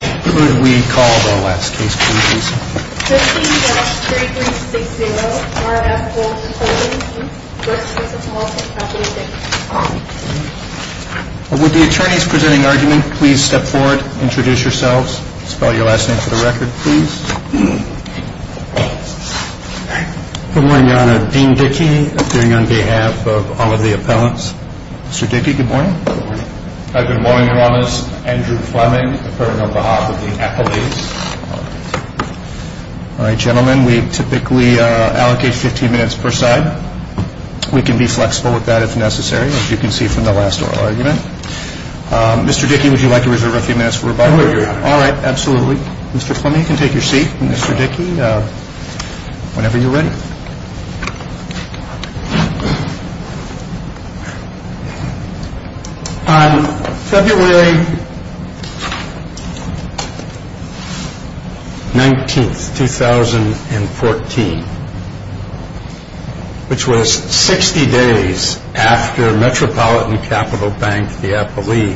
Good morning, Your Honor. Dean Dickey, appearing on behalf of all of the appellants. Mr. Dickey, good morning. Good morning, Your Honor. Andrew Fleming, appearing on behalf of the appellants. All right, gentlemen, we typically allocate 15 minutes per side. We can be flexible with that if necessary, as you can see from the last oral argument. Mr. Dickey, would you like to reserve a few minutes for rebuttal? I would, Your Honor. All right, absolutely. Mr. Fleming, you can take your seat. Mr. Dickey, whenever you're ready. On February 19, 2014, which was 60 days after Metropolitan Capital Bank, the appellee,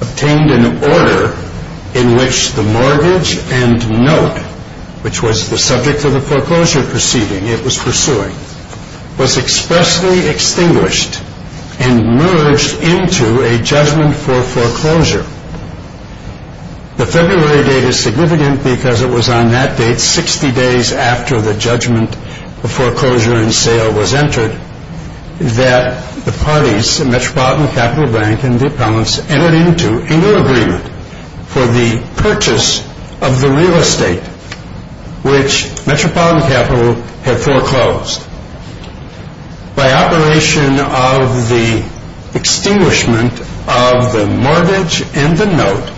obtained an order in which the mortgage and note, which was the subject of the foreclosure proceeding it was pursuing, was expressly extinguished and merged into a judgment for foreclosure. The February date is significant because it was on that date, 60 days after the judgment of foreclosure and sale was entered, that the parties, Metropolitan Capital Bank and the appellants, entered into an agreement for the purchase of the real estate, which Metropolitan Capital had foreclosed, by operation of the extinguishment of the mortgage and the note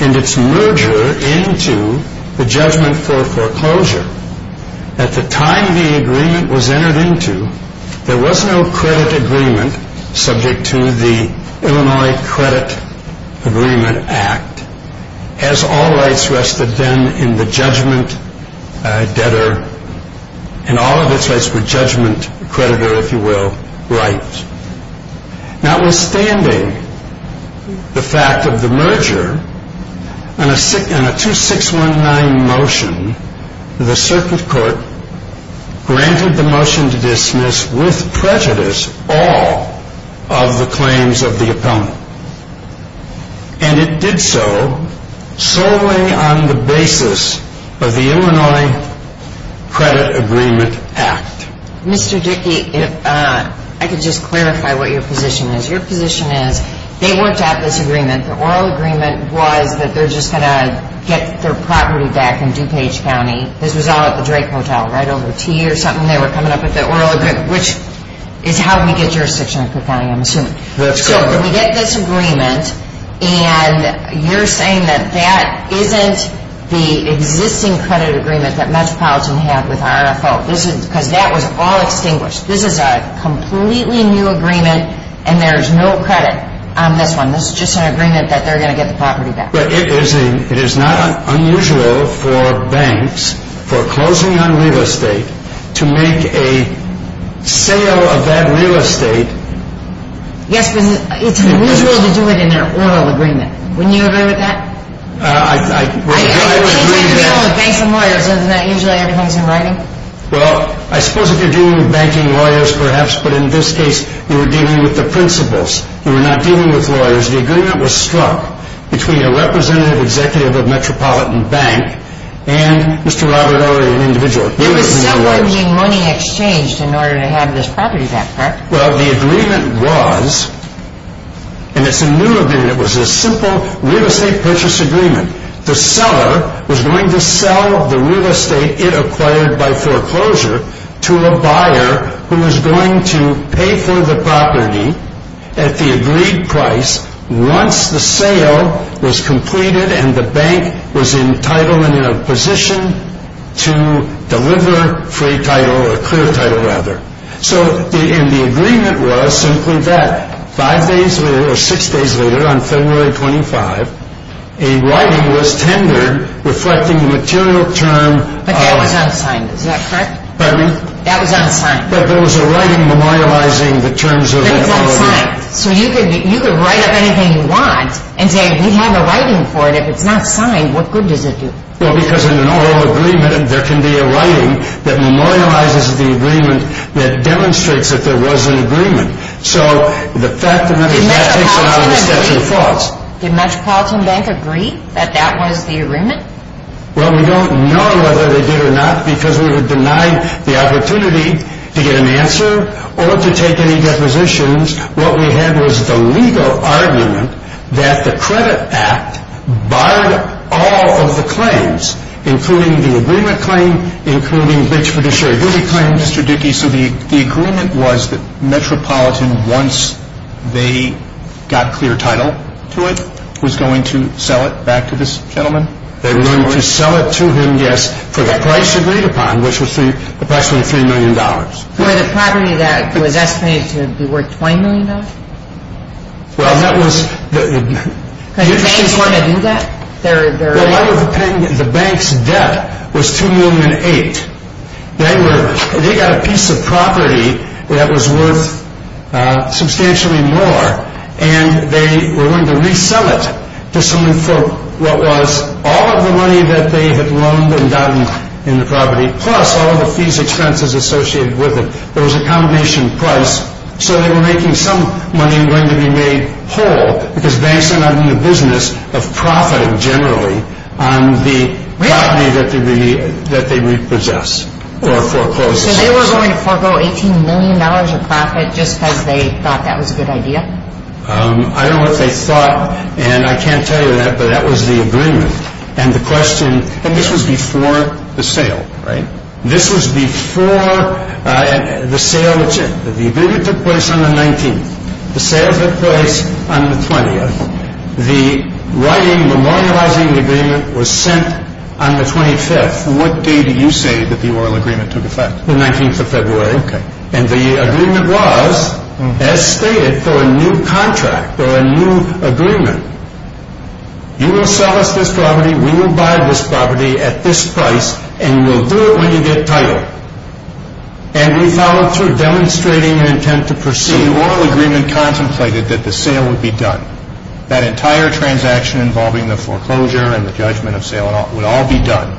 and its merger into the judgment for foreclosure. At the time the agreement was entered into, there was no credit agreement subject to the Illinois Credit Agreement Act, as all rights rested then in the judgment debtor, and all of its rights were judgment creditor, if you will, rights. Notwithstanding the fact of the merger, on a 2619 motion, the circuit court granted the motion to dismiss, with prejudice, all of the claims of the appellant. And it did so solely on the basis of the Illinois Credit Agreement Act. Mr. Dickey, if I could just clarify what your position is. Your position is, they worked out this agreement, the oral agreement was that they're just going to get their property back in DuPage County. This was all at the Drake Hotel, right over tea or something, they were coming up with the oral agreement, which is how we get jurisdiction in Cook County, I'm assuming. So we get this agreement, and you're saying that that isn't the existing credit agreement that Metropolitan had with RFO, because that was all extinguished. This is a completely new agreement, and there's no credit on this one. This is just an agreement that they're going to get the property back. But it is not unusual for banks, for closing on real estate, to make a sale of that real estate. Yes, but it's unusual to do it in their oral agreement. Wouldn't you agree with that? I would agree with that. I mean, it seems like you're dealing with banks and lawyers, isn't that usually everything's in writing? Well, I suppose if you're dealing with banking lawyers, perhaps, but in this case, you were dealing with lawyers. The agreement was struck between a representative executive of Metropolitan Bank and Mr. Robert Orey, an individual. There was some money exchanged in order to have this property back, correct? Well, the agreement was, and it's a new agreement, it was a simple real estate purchase agreement. The seller was going to sell the real estate it acquired by foreclosure to a buyer who was going to pay for the property at the agreed price once the sale was completed and the bank was entitled and in a position to deliver free title, or clear title, rather. So, and the agreement was simply that. Five days later, or six days later, on February 25, a writing was tendered reflecting the material term of... But that was unsigned, is that correct? Pardon me? That was unsigned. But there was a writing memorializing the terms of the agreement. That was unsigned. So you could write up anything you want and say, we have a writing for it. If it's not signed, what good does it do? Well, because in an oral agreement, there can be a writing that memorializes the agreement that demonstrates that there was an agreement. So, the fact of the matter is that takes it out of the statute of faults. Did Metropolitan Bank agree that that was the agreement? Well, we don't know whether they did or not because we were denied the opportunity to get an answer or to take any depositions. What we had was the legal argument that the credit act barred all of the claims, including the agreement claim, including which fiduciary did we claim? Mr. Dickey, so the agreement was that Metropolitan, once they got clear title to it, was going to sell it back to this gentleman? They were going to sell it to him, yes, for the price agreed upon, which was approximately $3 million. For the property that was estimated to be worth $20 million? Well, that was... Because the bank didn't want to do that? The bank's debt was $2.8 million. They got a piece of property that was worth substantially more and they were going to resell it to someone for what was all of the money that they had loaned and gotten in the property, plus all of the fees, expenses associated with it. There was a combination price. So, they were making some money going to be made whole because banks are not in the business of profiting generally on the property that they repossess or foreclose. So, they were going to foreclose $18 million of profit just because they thought that was a good idea? I don't know if they thought, and I can't tell you that, but that was the agreement. And the question, and this was before the sale, right? This was before the sale. The agreement took place on the 19th. The sale took place on the 20th. The writing, memorializing the agreement was sent on the 25th. What date did you say that the oral agreement took effect? The 19th of February. Okay. And the agreement was, as stated, for a new contract or a new agreement. You will sell us this property, we will buy this property at this price, and we'll do it when you get title. And we followed through demonstrating an intent to proceed. So, the oral agreement contemplated that the sale would be done. That entire transaction involving the foreclosure and the judgment of sale would all be done.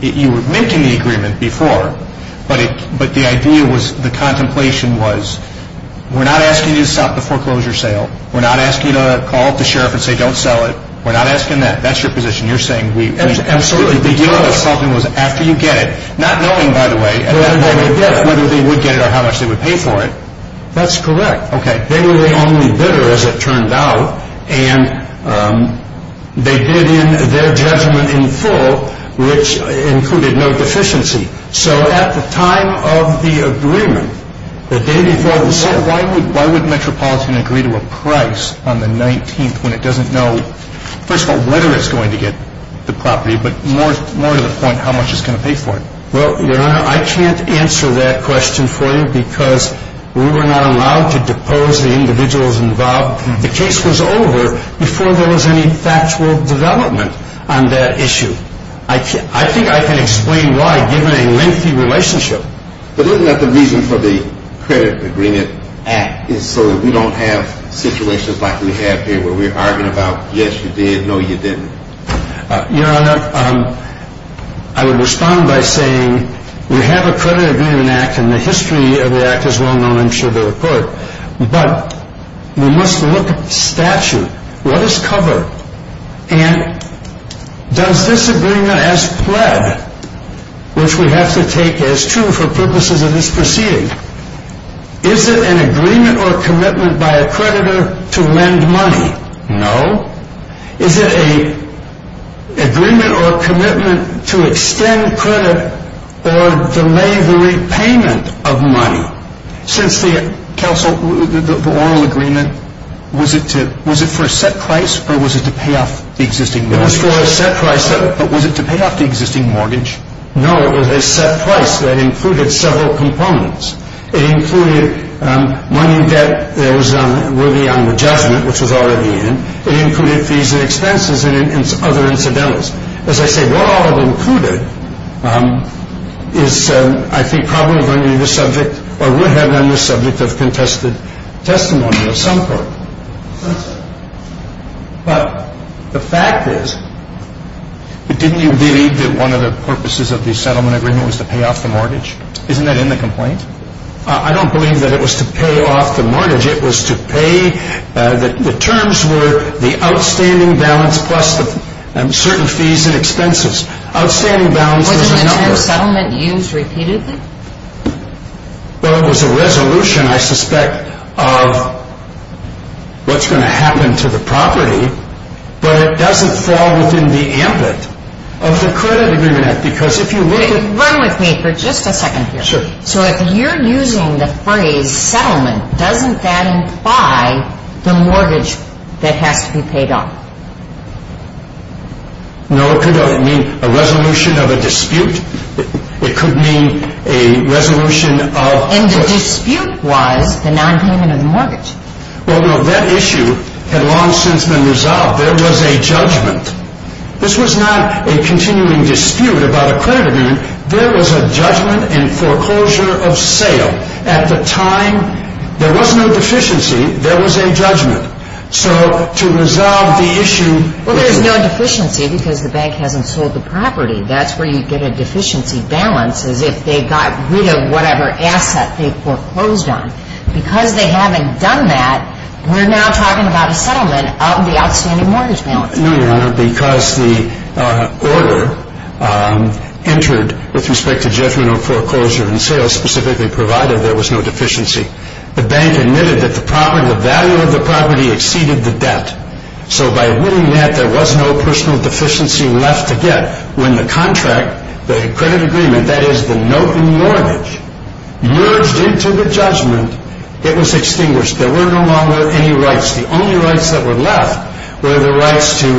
You were making the agreement before, but the idea was, the contemplation was, we're not asking you to stop the foreclosure sale. We're not asking you to call up the sheriff and say, don't sell it. We're not asking that. That's your position. You're saying we... Absolutely, because... The deal was, after you get it, not knowing, by the way... Whether they would get it. Whether they would get it or how much they would pay for it. That's correct. Okay. They were the only bidder, as it turned out, and they did their judgment in full, which included no deficiency. So, at the time of the agreement, the day before the sale... Why would Metropolitan agree to a price on the 19th when it doesn't know, first of all, whether it's going to get the property, but more to the point, how much it's going to pay for it? Well, Your Honor, I can't answer that question for you, because we were not allowed to depose the individuals involved. The case was over before there was any factual development on that issue. I think I can explain why, given a lengthy relationship. But isn't that the reason for the credit agreement act, is so that we don't have situations like we have here, where we're arguing about, yes, you did, no, you didn't? Your Honor, I would respond by saying, we have a credit agreement act, and the history of the act is well known, I'm sure, to the court, but we must look at the statute. What is covered? And does this agreement, as pled, which we have to take as true for purposes of this proceeding, is it an agreement or commitment by a creditor to lend money? No. Is it an agreement or commitment to extend credit or delay the repayment of money? Since the oral agreement, was it for a set price, or was it to pay off the existing mortgage? It was for a set price. But was it to pay off the existing mortgage? No, it was a set price that included several components. It included money that was on the judgment, which was already in. It included fees and expenses and other incidentals. As I say, what all of it included is, I think, probably going to be the subject, or would have been the subject of contested testimony of some sort. But the fact is, didn't you believe that one of the purposes of the settlement agreement was to pay off the mortgage? Isn't that in the complaint? I don't believe that it was to pay off the mortgage. It was to pay, the terms were the outstanding balance plus certain fees and expenses. Outstanding balance was a number. Was an interim settlement used repeatedly? Well, it was a resolution, I suspect, of what's going to happen to the property, but it doesn't fall within the ambit of the credit agreement act, because if you look at Wait, run with me for just a second here. Sure. So if you're using the phrase settlement, doesn't that imply the mortgage that has to be paid off? No, it could mean a resolution of a dispute. It could mean a resolution of And the dispute was the non-payment of the mortgage. Well, no, that issue had long since been resolved. There was a judgment. This was not a At the time, there was no deficiency. There was a judgment. So to resolve the issue Well, there's no deficiency because the bank hasn't sold the property. That's where you get a deficiency balance is if they got rid of whatever asset they foreclosed on. Because they haven't done that, we're now talking about a settlement of the outstanding mortgage balance. No, Your Honor, because the order entered with respect to judgment or foreclosure and sales specifically provided, there was no deficiency. The bank admitted that the value of the property exceeded the debt. So by winning that, there was no personal deficiency left to get. When the contract, the credit agreement, that is the note in mortgage, merged into the judgment, it was extinguished. There were no longer any rights. The only rights that were to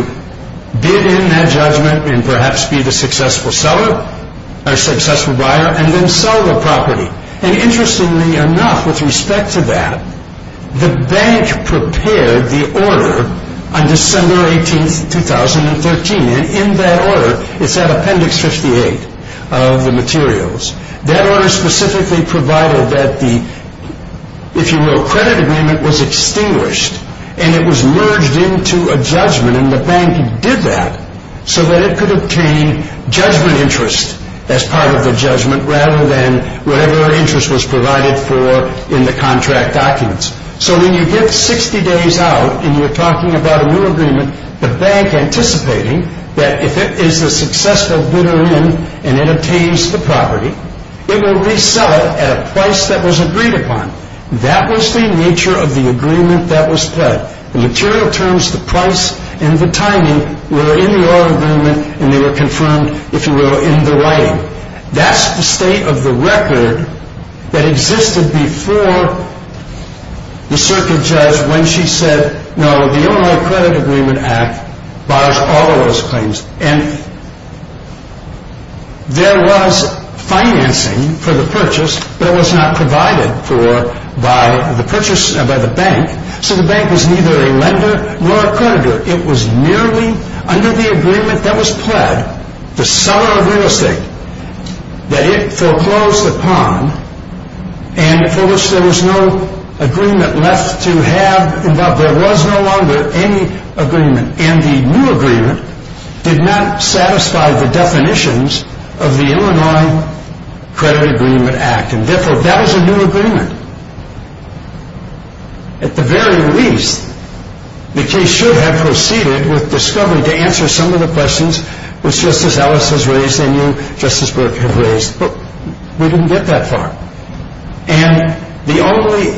bid in that judgment and perhaps be the successful buyer and then sell the property. And interestingly enough, with respect to that, the bank prepared the order on December 18th, 2013. And in that order, it's at appendix 58 of the materials, that order specifically provided that the, if you will, credit agreement was extinguished and it was merged into a judgment. And the bank did that so that it could obtain judgment interest as part of the judgment rather than whatever interest was provided for in the contract documents. So when you get 60 days out and you're talking about a new agreement, the bank anticipating that if it is a successful bidder in and it obtains the property, it will resell it at a price that was agreed upon. That was the nature of the agreement that was pledged. The material terms, the price, and the timing were in the order agreement and they were confirmed, if you will, in the writing. That's the state of the record that existed before the circuit judge when she said, no, the Illinois Credit Agreement Act bars all of those claims. And there was financing for the purchase, but it was not provided for by the purchase, by the bank, so the bank was neither a lender nor a creditor. It was merely under the agreement that was pled, the seller of real estate, that it foreclosed upon and for which there was no agreement left to have involved. There was no longer any agreement. And the new agreement did not satisfy the definitions of the Illinois Credit Agreement Act. And therefore, that was a new agreement. At the very least, the case should have proceeded with discovery to answer some of the questions which Justice Ellis has raised and you, Justice Burke, have raised, but we didn't get that far. And the only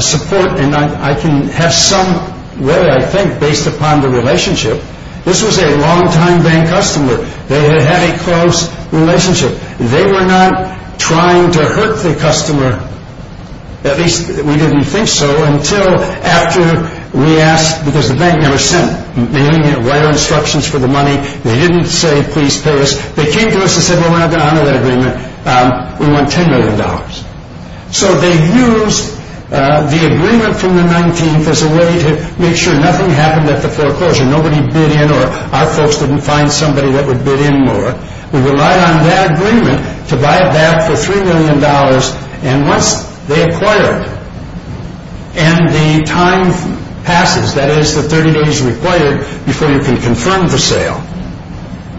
support, and I can have some way, I think, based upon the relationship, this was a long-time bank customer. They had a close relationship. They were not trying to hurt the customer, at least we didn't think so, until after we asked, because the bank never sent any wire instructions for the money. They didn't say, please pay us. They came to us and said, well, we're not going to honor that agreement. We want $10 million. So they used the agreement from the 19th as a way to make sure nothing happened at the foreclosure. Nobody bid in or our folks didn't find somebody that would bid in more. We relied on that agreement to buy it back for $3 million. And once they acquired, and the time passes, that is the 30 days required before you can confirm the sale,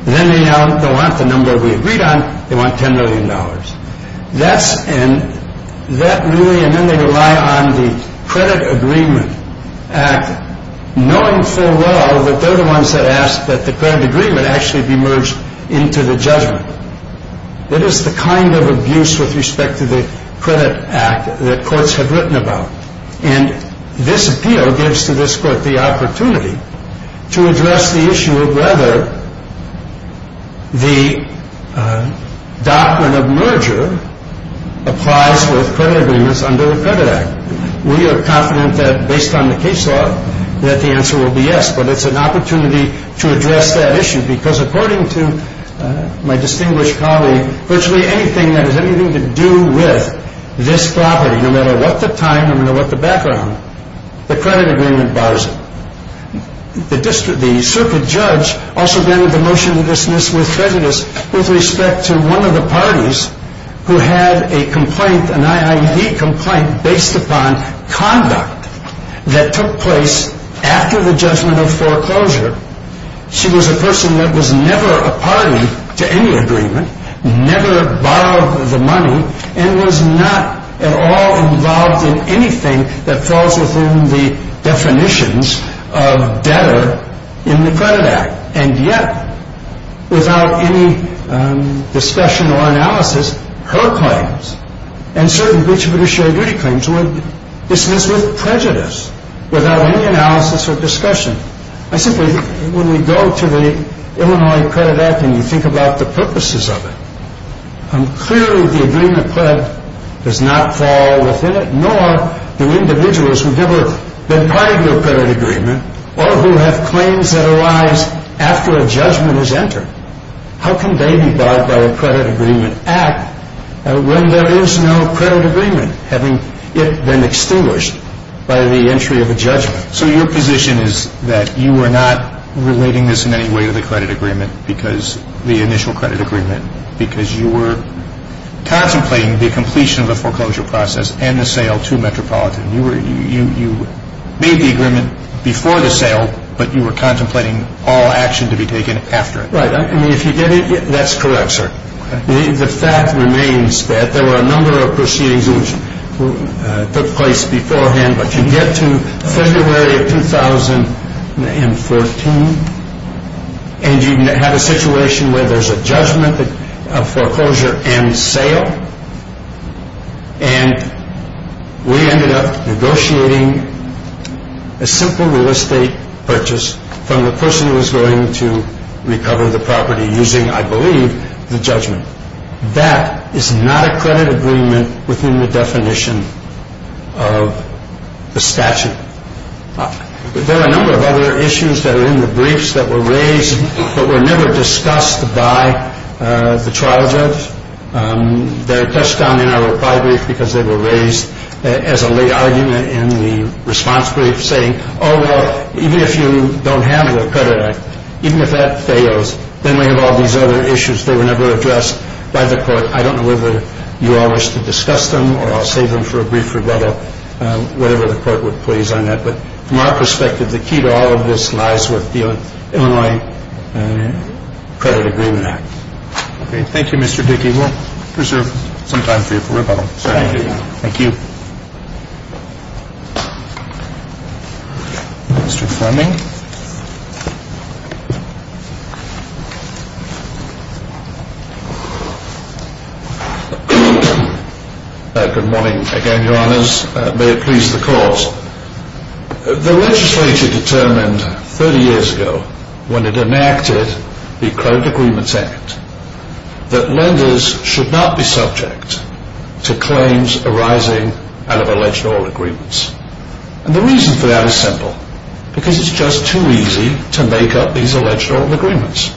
then they don't want the number we agreed on. They want $10 million. That's and that really, and then they rely on the Credit Agreement Act, knowing full well that they're the ones that asked that the credit agreement actually be merged into the judgment. It is the kind of abuse with respect to the Credit Act that courts have written about. And this appeal gives to this court the opportunity to address the issue of whether the doctrine of merger applies with credit agreements under the Credit Act. We are confident that based on the case law that the answer will be yes. But it's an opportunity to address that issue. Because according to my distinguished colleague, virtually anything that has anything to do with this property, no matter what the time, no matter what the background, the credit agreement bars it. The circuit judge also granted the motion to dismiss with prejudice with respect to one of the parties who had a complaint, an IID complaint based upon conduct that took place after the judgment of foreclosure. She was a person that was never a party to any agreement, never borrowed the money, and was not at all involved in anything that falls within the definitions of debtor in the Credit Act. And yet, without any discussion or analysis, her claims and certain breach of judicial duty claims were dismissed with prejudice, without any analysis or discussion. I simply, when we go to the Illinois Credit Act and you think about the purposes of it, clearly the agreement does not fall within it, nor do the individuals who've never been part of a credit agreement or who have claims that arise after a judgment is entered. How can they be barred by a credit agreement act when there is no credit agreement, having it been extinguished by the entry of a judgment? So your position is that you are not relating this in any way to the credit agreement because, the initial credit agreement, because you were contemplating the completion of the foreclosure process and the sale to Metropolitan. You made the agreement before the sale, but you were contemplating all action to be taken after. Right. I mean, if you get it, that's correct, sir. The fact remains that there were a number of proceedings which took place beforehand, but you get to February of 2014, and you have a situation where there's a judgment of foreclosure and sale, and we ended up negotiating a simple real estate purchase from the person who was going to recover the property using, I believe, the judgment. That is not a credit agreement within the definition of the statute. There are a number of other issues that are in the briefs that were raised but were never discussed by the trial judge. They're touched on in our reply brief because they were raised as a late argument in the response brief, saying, oh, well, even if you don't have a credit act, even if that fails, then we have all these other issues that were never addressed by the court. I don't know whether you all wish to comment on that, but from our perspective, the key to all of this lies with the Illinois Credit Agreement Act. Okay. Thank you, Mr. Dickey. We'll preserve some time for you for rebuttal. Thank you. Mr. Fleming. Good morning again, Your Honors. May it please the Court. The legislature determined 30 years ago when it enacted the Credit Agreements Act that lenders should not be subject to claims arising out of alleged old agreements. And the reason for that is simple, because it's just too easy to make up these alleged old agreements.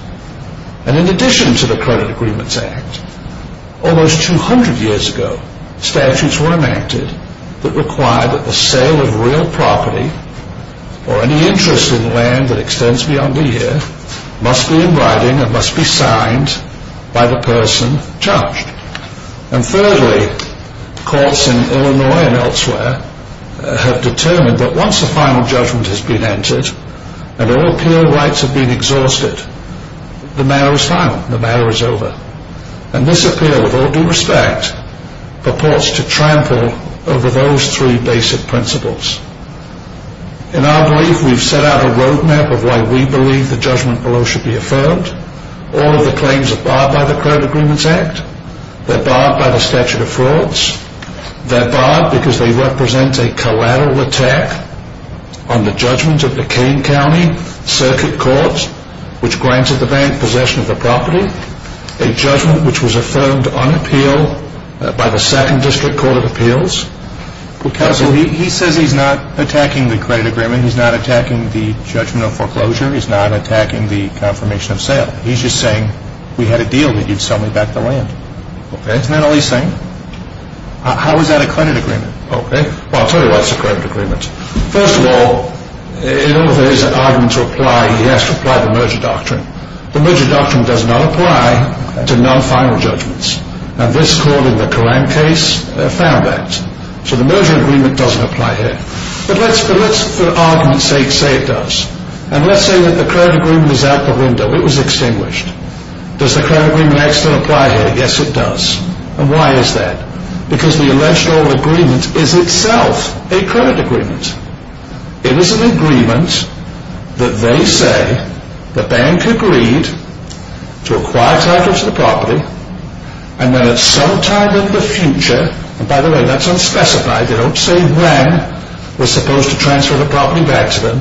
And in addition to the Credit Agreements Act, almost 200 years ago, statutes were enacted that required that the sale of real property or any interest in land that extends beyond the year must be in writing and must be signed by the person charged. And thirdly, courts in Illinois and elsewhere have determined that once a final judgment has been entered and all appeal rights have been exhausted, the matter is final. The matter is over. And this appeal, with all due respect, purports to trample over those three basic principles. In our belief, we've set out a roadmap of why we believe the judgment below should be affirmed. All of the claims are barred by the Credit Agreements Act. They're barred by the statute of frauds. They're barred because they represent a collateral attack on the judgment of the Kane County Circuit Courts, which granted the bank possession of the property, a judgment which was affirmed on appeal by the He says he's not attacking the credit agreement. He's not attacking the judgment of foreclosure. He's not attacking the confirmation of sale. He's just saying, we had a deal that you'd sell me back the land. Okay. Isn't that all he's saying? How is that a credit agreement? Okay. Well, I'll tell you what's a credit agreement. First of all, in order for this argument to apply, he has to apply the merger doctrine. The merger doctrine does not apply to non-final judgments. And this court in the Koran case found that. So the merger agreement doesn't apply here. But let's, for argument's sake, say it does. And let's say that the credit agreement is out the window. It was extinguished. Does the Credit Agreement Act still apply here? Yes, it does. And why is that? Because the election agreement is itself a credit agreement. It is an agreement that they say the bank agreed to acquire title to the property. And then at some time in the future, and by the way, that's unspecified. They don't say when we're supposed to transfer the property back to them.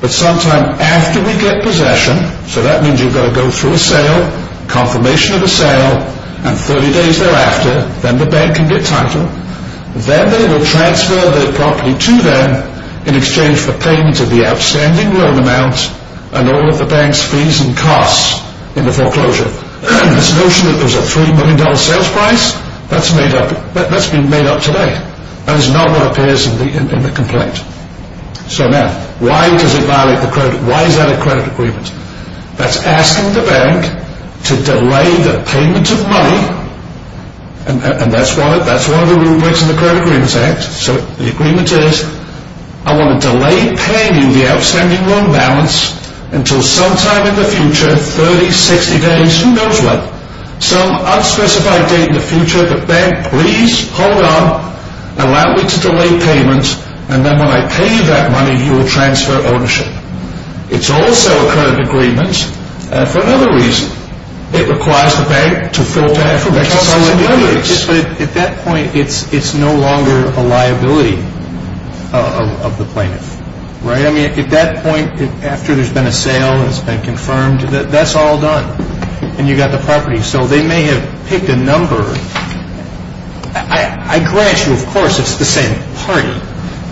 But sometime after we get possession, so that means you've got to go through a sale, confirmation of a sale, and 30 days thereafter, then the bank can get title. Then they will transfer the property to them in exchange for payment of the outstanding loan amount and all of the bank's fees and costs in the foreclosure. This notion that there's a $3 million sales price, that's been made up today. And it's not what appears in the complaint. So now, why does it violate the credit, why is that a credit agreement? That's asking the bank to delay the payment of money, and that's one of the rubrics in the Credit Agreements Act. So the agreement is, I want to delay paying you the outstanding loan balance until sometime in the future, 30, 60 days, who knows when. Some unspecified date in the future, the bank, please hold on, allow me to delay payment, and then when I pay you that money, you will transfer ownership. It's also a credit agreement, and for another reason, it requires the bank to fill time for retaliatory damages. But at that point, it's no longer a liability of the plaintiff, right? I mean, at that point, after there's been a sale, it's been confirmed, that's all done, and you've got the property. So they may have picked a number. I grant you, of course, it's the same party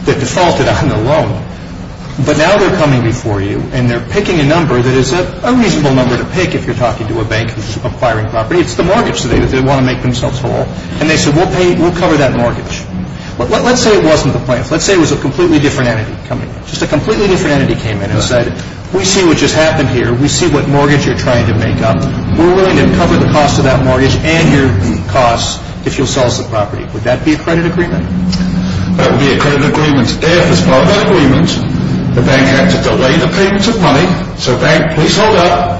that defaulted on the loan, but now they're coming before you, and they're picking a number that is a reasonable number to pick if you're talking to a bank who's acquiring property. It's the mortgage that they want to make themselves whole, and they said, we'll cover that mortgage. But let's say it wasn't the plaintiff. Let's say it was a completely different entity coming in. Just a completely different entity came in and said, we see what just happened here. We see what mortgage you're trying to make up. We're willing to cover the cost of that mortgage and your costs if you'll sell us the property. Would that be a credit agreement? That would be a credit agreement if, as part of that agreement, the bank had to delay the payment of money. So, bank, please hold up.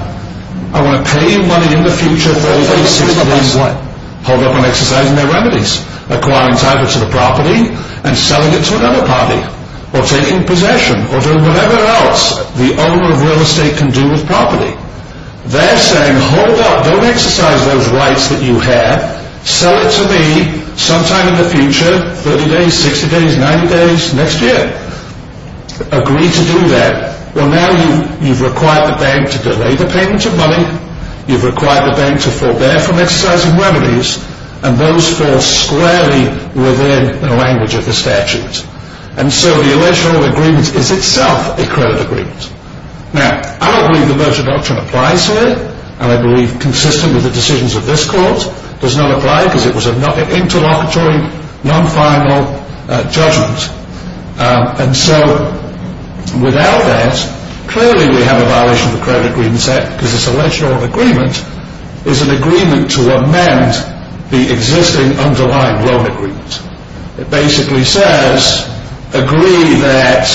I want to pay you money in the future for all these things. Hold up on what? Hold up on exercising their remedies. Acquiring title to the property and selling it to another party. Or taking possession, or doing whatever else the owner of real estate can do with property. They're saying, hold up, don't exercise those rights that you have. Sell it to me, sometime in the future, 30 days, 60 days, 90 days, next year. Agree to do that. Well, now you've required the bank to delay the payment of money. You've required the bank to forbear from exercising remedies. And those fall squarely within the language of the statute. And so the original agreement is itself a credit agreement. Now, I don't believe the merger doctrine applies here. And I believe, consistent with the decisions of this court, does not apply because it was an interlocutory, non-final judgment. And so, without that, clearly we have a violation of the Credit Agreements Act. Because this alleged loan agreement is an agreement to amend the existing underlying loan agreement. It basically says, agree that,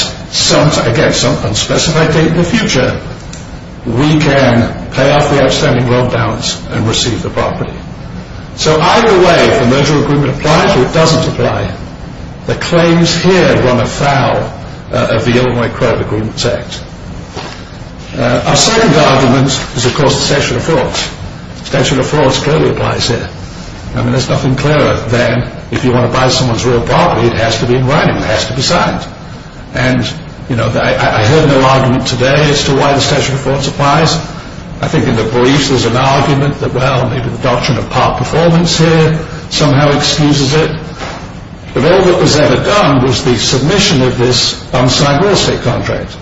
again, some unspecified date in the future, we can pay off the outstanding loan balance and receive the property. So either way, the merger agreement applies or it doesn't apply. The claims here run afoul of the Illinois Credit Agreements Act. Our second argument is, of course, the statute of frauds. The statute of frauds clearly applies here. I mean, there's nothing clearer than, if you want to buy someone's real property, it has to be in writing. It has to be signed. And, you know, I heard no argument today as to why the statute of frauds applies. I think in the briefs there's an argument that, well, maybe the doctrine of part performance here somehow excuses it. But all that was ever done was the submission of this unsigned real estate contract.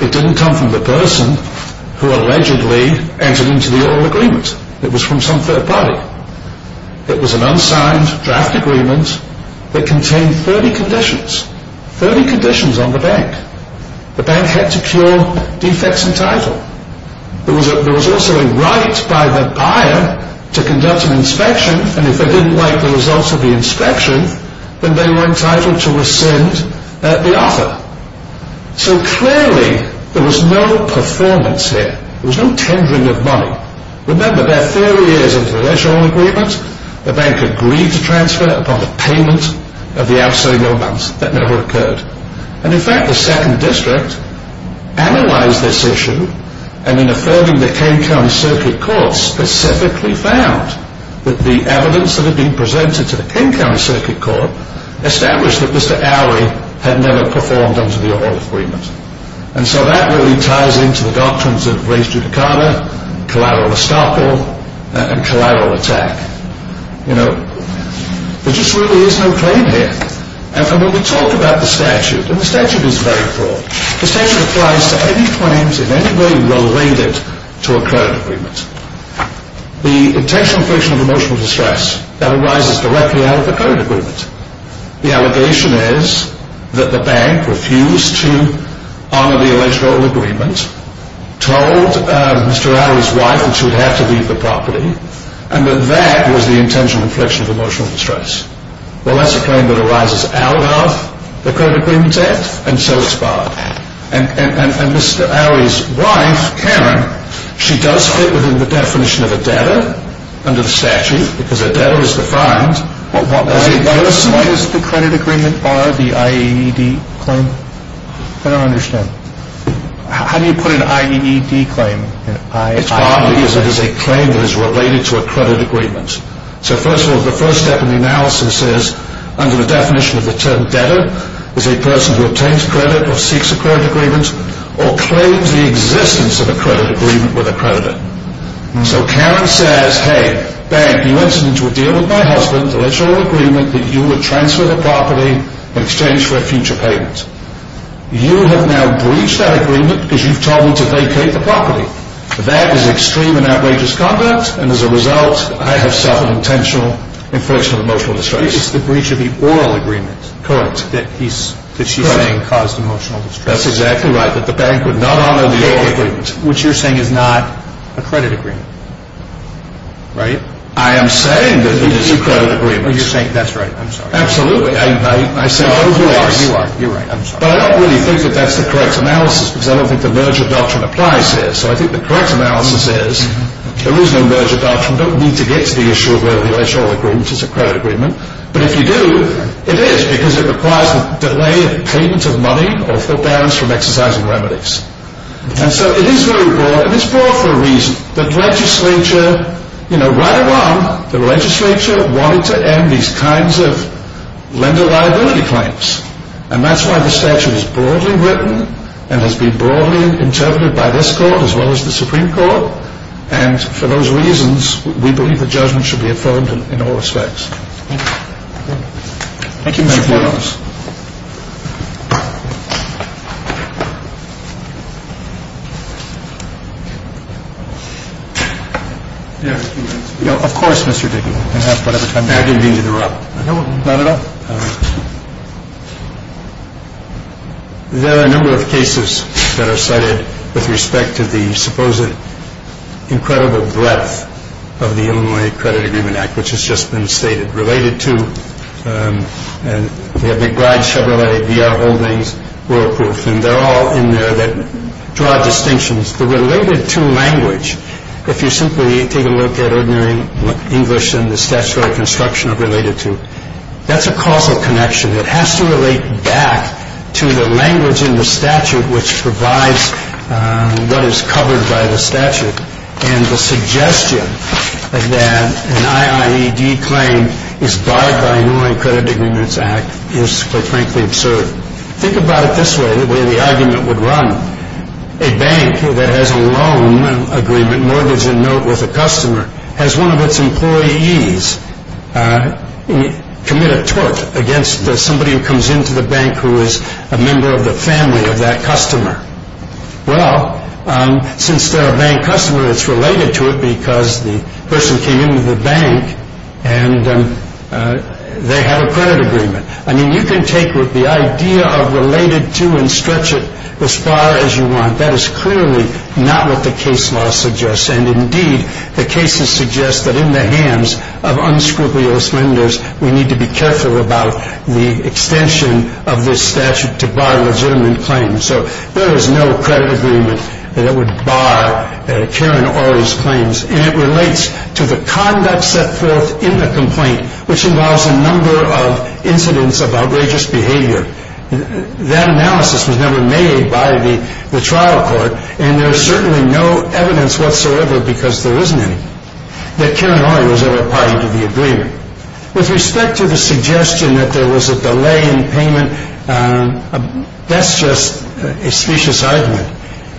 It didn't come from the person who allegedly entered into the oral agreement. It was from some third party. It was an unsigned draft agreement that contained 30 conditions, 30 conditions on the bank. The bank had to cure defects entitled. There was also a right by the buyer to conduct an inspection, and if they didn't like the results of the inspection, then they were entitled to rescind the offer. So clearly there was no performance here. There was no tendering of money. Remember, they're 30 years into the original agreement. The bank agreed to transfer upon the payment of the outstanding amount. That never occurred. And, in fact, the second district analyzed this issue, and in affirming the King County Circuit Court, specifically found that the evidence that had been presented to the King County Circuit Court established that Mr. Oury had never performed under the oral agreement. And so that really ties into the doctrines of race judicata, collateral estoppel, and collateral attack. You know, there just really is no claim here. And when we talk about the statute, and the statute is very broad, the statute applies to any claims in any way related to a current agreement. The intentional friction of emotional distress, that arises directly out of the current agreement. The allegation is that the bank refused to honor the alleged oral agreement, told Mr. Oury's wife that she would have to leave the property, and that that was the intentional infliction of emotional distress. Well, that's a claim that arises out of the current agreement's act, and so it's barred. And Mr. Oury's wife, Karen, she does fit within the definition of a debtor under the statute, because a debtor is defined as a person... Why does the credit agreement bar the IAED claim? I don't understand. How do you put an IAED claim? It's partly because it is a claim that is related to a credit agreement. So first of all, the first step in the analysis is, under the definition of the term debtor, is a person who obtains credit or seeks a credit agreement, or claims the existence of a credit agreement with a creditor. So Karen says, hey, bank, you entered into a deal with my husband, a literal agreement that you would transfer the property in exchange for a future payment. You have now breached that agreement because you've told me to vacate the property. That is extreme and outrageous conduct, and as a result, I have suffered intentional infliction of emotional distress. It's the breach of the oral agreement that she's saying caused emotional distress. That's exactly right, that the bank would not honor the oral agreement. Which you're saying is not a credit agreement, right? I am saying that it is a credit agreement. You're saying that's right. I'm sorry. Absolutely. I say both ways. No, you are. You are. You're right. I'm sorry. But I don't really think that that's the correct analysis, because I don't think the merger doctrine applies here. So I think the correct analysis is, there is no merger doctrine. You don't need to get to the issue of whether the IHR agreement is a credit agreement. But if you do, it is, because it requires the delay of payment of money or foot balance from exercising remedies. And so it is very broad, and it's broad for a reason. The legislature, you know, right along, the legislature wanted to end these kinds of lender liability claims. And that's why the statute is broadly written and has been broadly interpreted by this court as well as the Supreme Court. And for those reasons, we believe the judgment should be affirmed in all respects. Thank you. Thank you, Mr. Williams. Do you have a few minutes? Of course, Mr. Dickens. I didn't mean to interrupt. No, not at all. There are a number of cases that are cited with respect to the supposed incredible breadth of the Illinois Credit Agreement Act, which has just been stated, related to, and we have McBride Chevrolet, VR Holdings, Royal Proof. And they're all in there that draw distinctions. The related to language, if you simply take a look at ordinary English and the statutory construction of related to, that's a causal connection. It has to relate back to the language in the statute which provides what is covered by the statute. And the suggestion that an IIED claim is barred by Illinois Credit Agreements Act is, quite frankly, absurd. Think about it this way, the way the argument would run. A bank that has a loan agreement, mortgage and note with a customer, has one of its employees commit a tort against somebody who comes into the bank who is a member of the family of that customer. Well, since they're a bank customer, it's related to it because the person came into the bank and they have a credit agreement. I mean, you can take the idea of related to and stretch it as far as you want. That is clearly not what the case law suggests. And indeed, the cases suggest that in the hands of unscrupulous lenders, we need to be careful about the extension of this statute to bar legitimate claims. So there is no credit agreement that would bar Karen Orley's claims. And it relates to the conduct set forth in the complaint, which involves a number of incidents of outrageous behavior. That analysis was never made by the trial court. And there is certainly no evidence whatsoever, because there isn't any, that Karen Orley was ever a part of the agreement. With respect to the suggestion that there was a delay in payment, that's just a specious argument.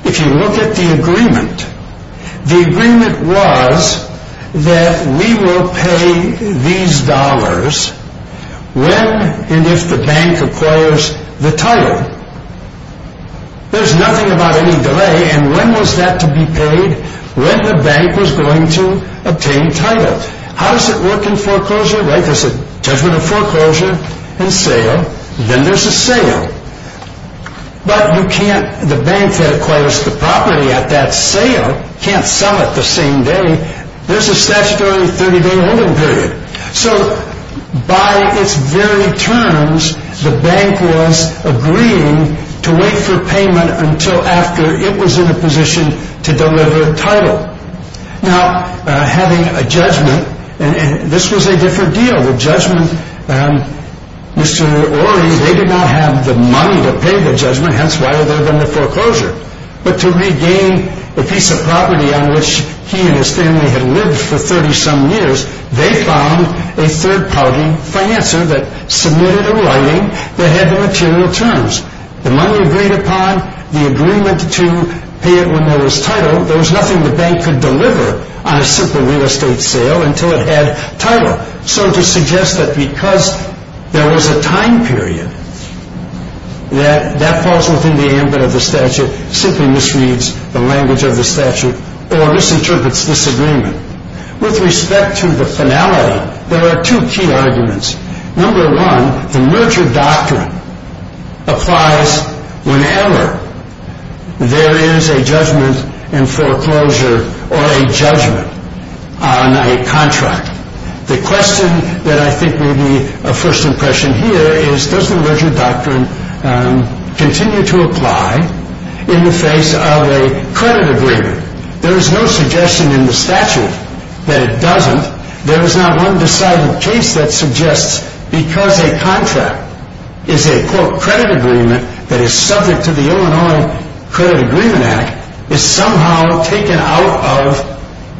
If you look at the agreement, the agreement was that we will pay these dollars when and if the bank acquires the title. There's nothing about any delay. And when was that to be paid? When the bank was going to obtain title. How does it work in foreclosure? There's a judgment of foreclosure and sale. Then there's a sale. But the bank that acquires the property at that sale can't sell it the same day. There's a statutory 30-day holding period. So by its very terms, the bank was agreeing to wait for payment until after it was in a position to deliver title. Now, having a judgment, and this was a different deal. Mr. Orley, they did not have the money to pay the judgment. Hence, why are there then the foreclosure? But to regain the piece of property on which he and his family had lived for 30-some years, they found a third-party financer that submitted a writing that had the material terms. The money agreed upon. The agreement to pay it when there was title. There was nothing the bank could deliver on a simple real estate sale until it had title. So to suggest that because there was a time period that that falls within the ambit of the statute simply misreads the language of the statute or misinterprets this agreement. With respect to the finality, there are two key arguments. Number one, the merger doctrine applies whenever there is a judgment in foreclosure or a judgment on a contract. The question that I think may be a first impression here is, does the merger doctrine continue to apply in the face of a credit agreement? There is no suggestion in the statute that it doesn't. There is not one decided case that suggests because a contract is a, quote,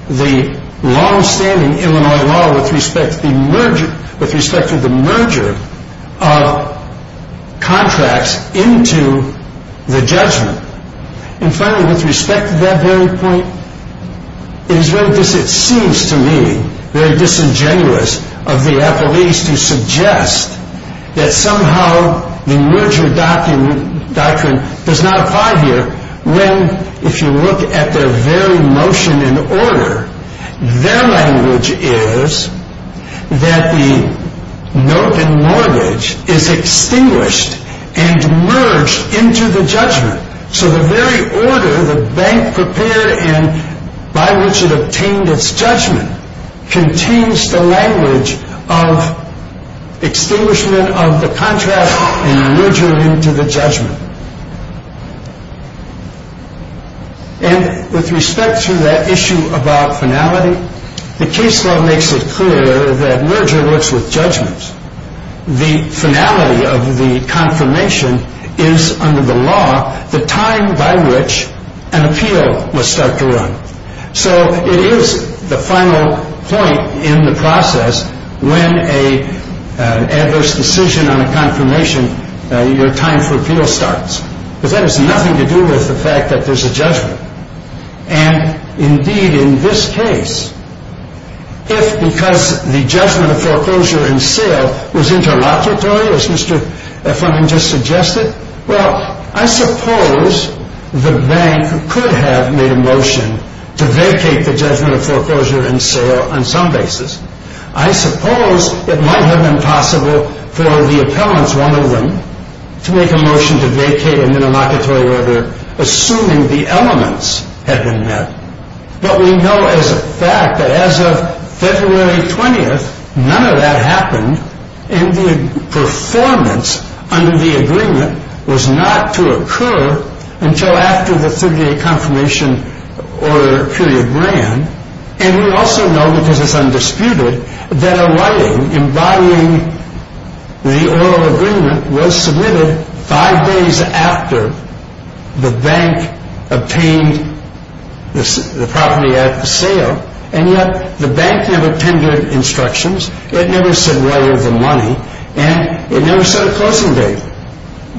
the long-standing Illinois law with respect to the merger of contracts into the judgment. And finally, with respect to that very point, it is very disingenuous of the appellees to suggest that somehow the merger doctrine does not apply here when, if you look at their very motion in order, their language is that the note in mortgage is extinguished and merged into the judgment. So the very order the bank prepared in by which it obtained its judgment contains the language of extinguishment of the contract and merger into the judgment. And with respect to that issue about finality, the case law makes it clear that merger works with judgment. The finality of the confirmation is under the law the time by which an appeal must start to run. So it is the final point in the process when an adverse decision on a confirmation, your time for appeal starts. But that has nothing to do with the fact that there's a judgment. And indeed, in this case, if because the judgment of foreclosure and sale was interlocutory, as Mr. Fremen just suggested, well, I suppose the bank could have made a motion to vacate the judgment of foreclosure and sale on some basis. I suppose it might have been possible for the appellants, one of them, to make a motion to vacate a minimocratory order assuming the elements had been met. But we know as a fact that as of February 20th, none of that happened, and the performance under the agreement was not to occur until after the 30-day confirmation order period ran. And we also know, because it's undisputed, that a writing imbibing the oral agreement was submitted five days after the bank obtained the property at the sale. And yet, the bank never tendered instructions. It never said whether the money, and it never said a closing date.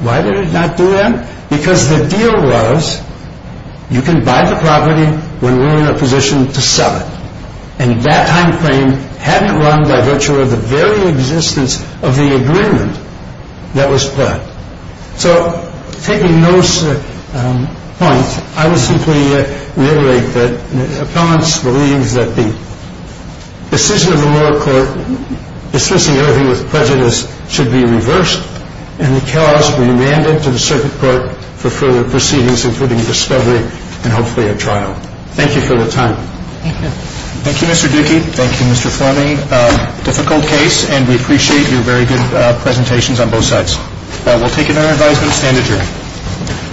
Why did it not do that? Because the deal was you can buy the property when we're in a position to sell it. And that time frame hadn't run by virtue of the very existence of the agreement that was planned. So taking those points, I would simply reiterate that appellants believe that the decision of the lower court dismissing everything with prejudice should be reversed, and the cause be amended to the circuit court for further proceedings including discovery and hopefully a trial. Thank you for your time. Thank you. Thank you, Mr. Dickey. Thank you, Mr. Fleming. A difficult case, and we appreciate your very good presentations on both sides. We'll take another advisement and stand adjourned.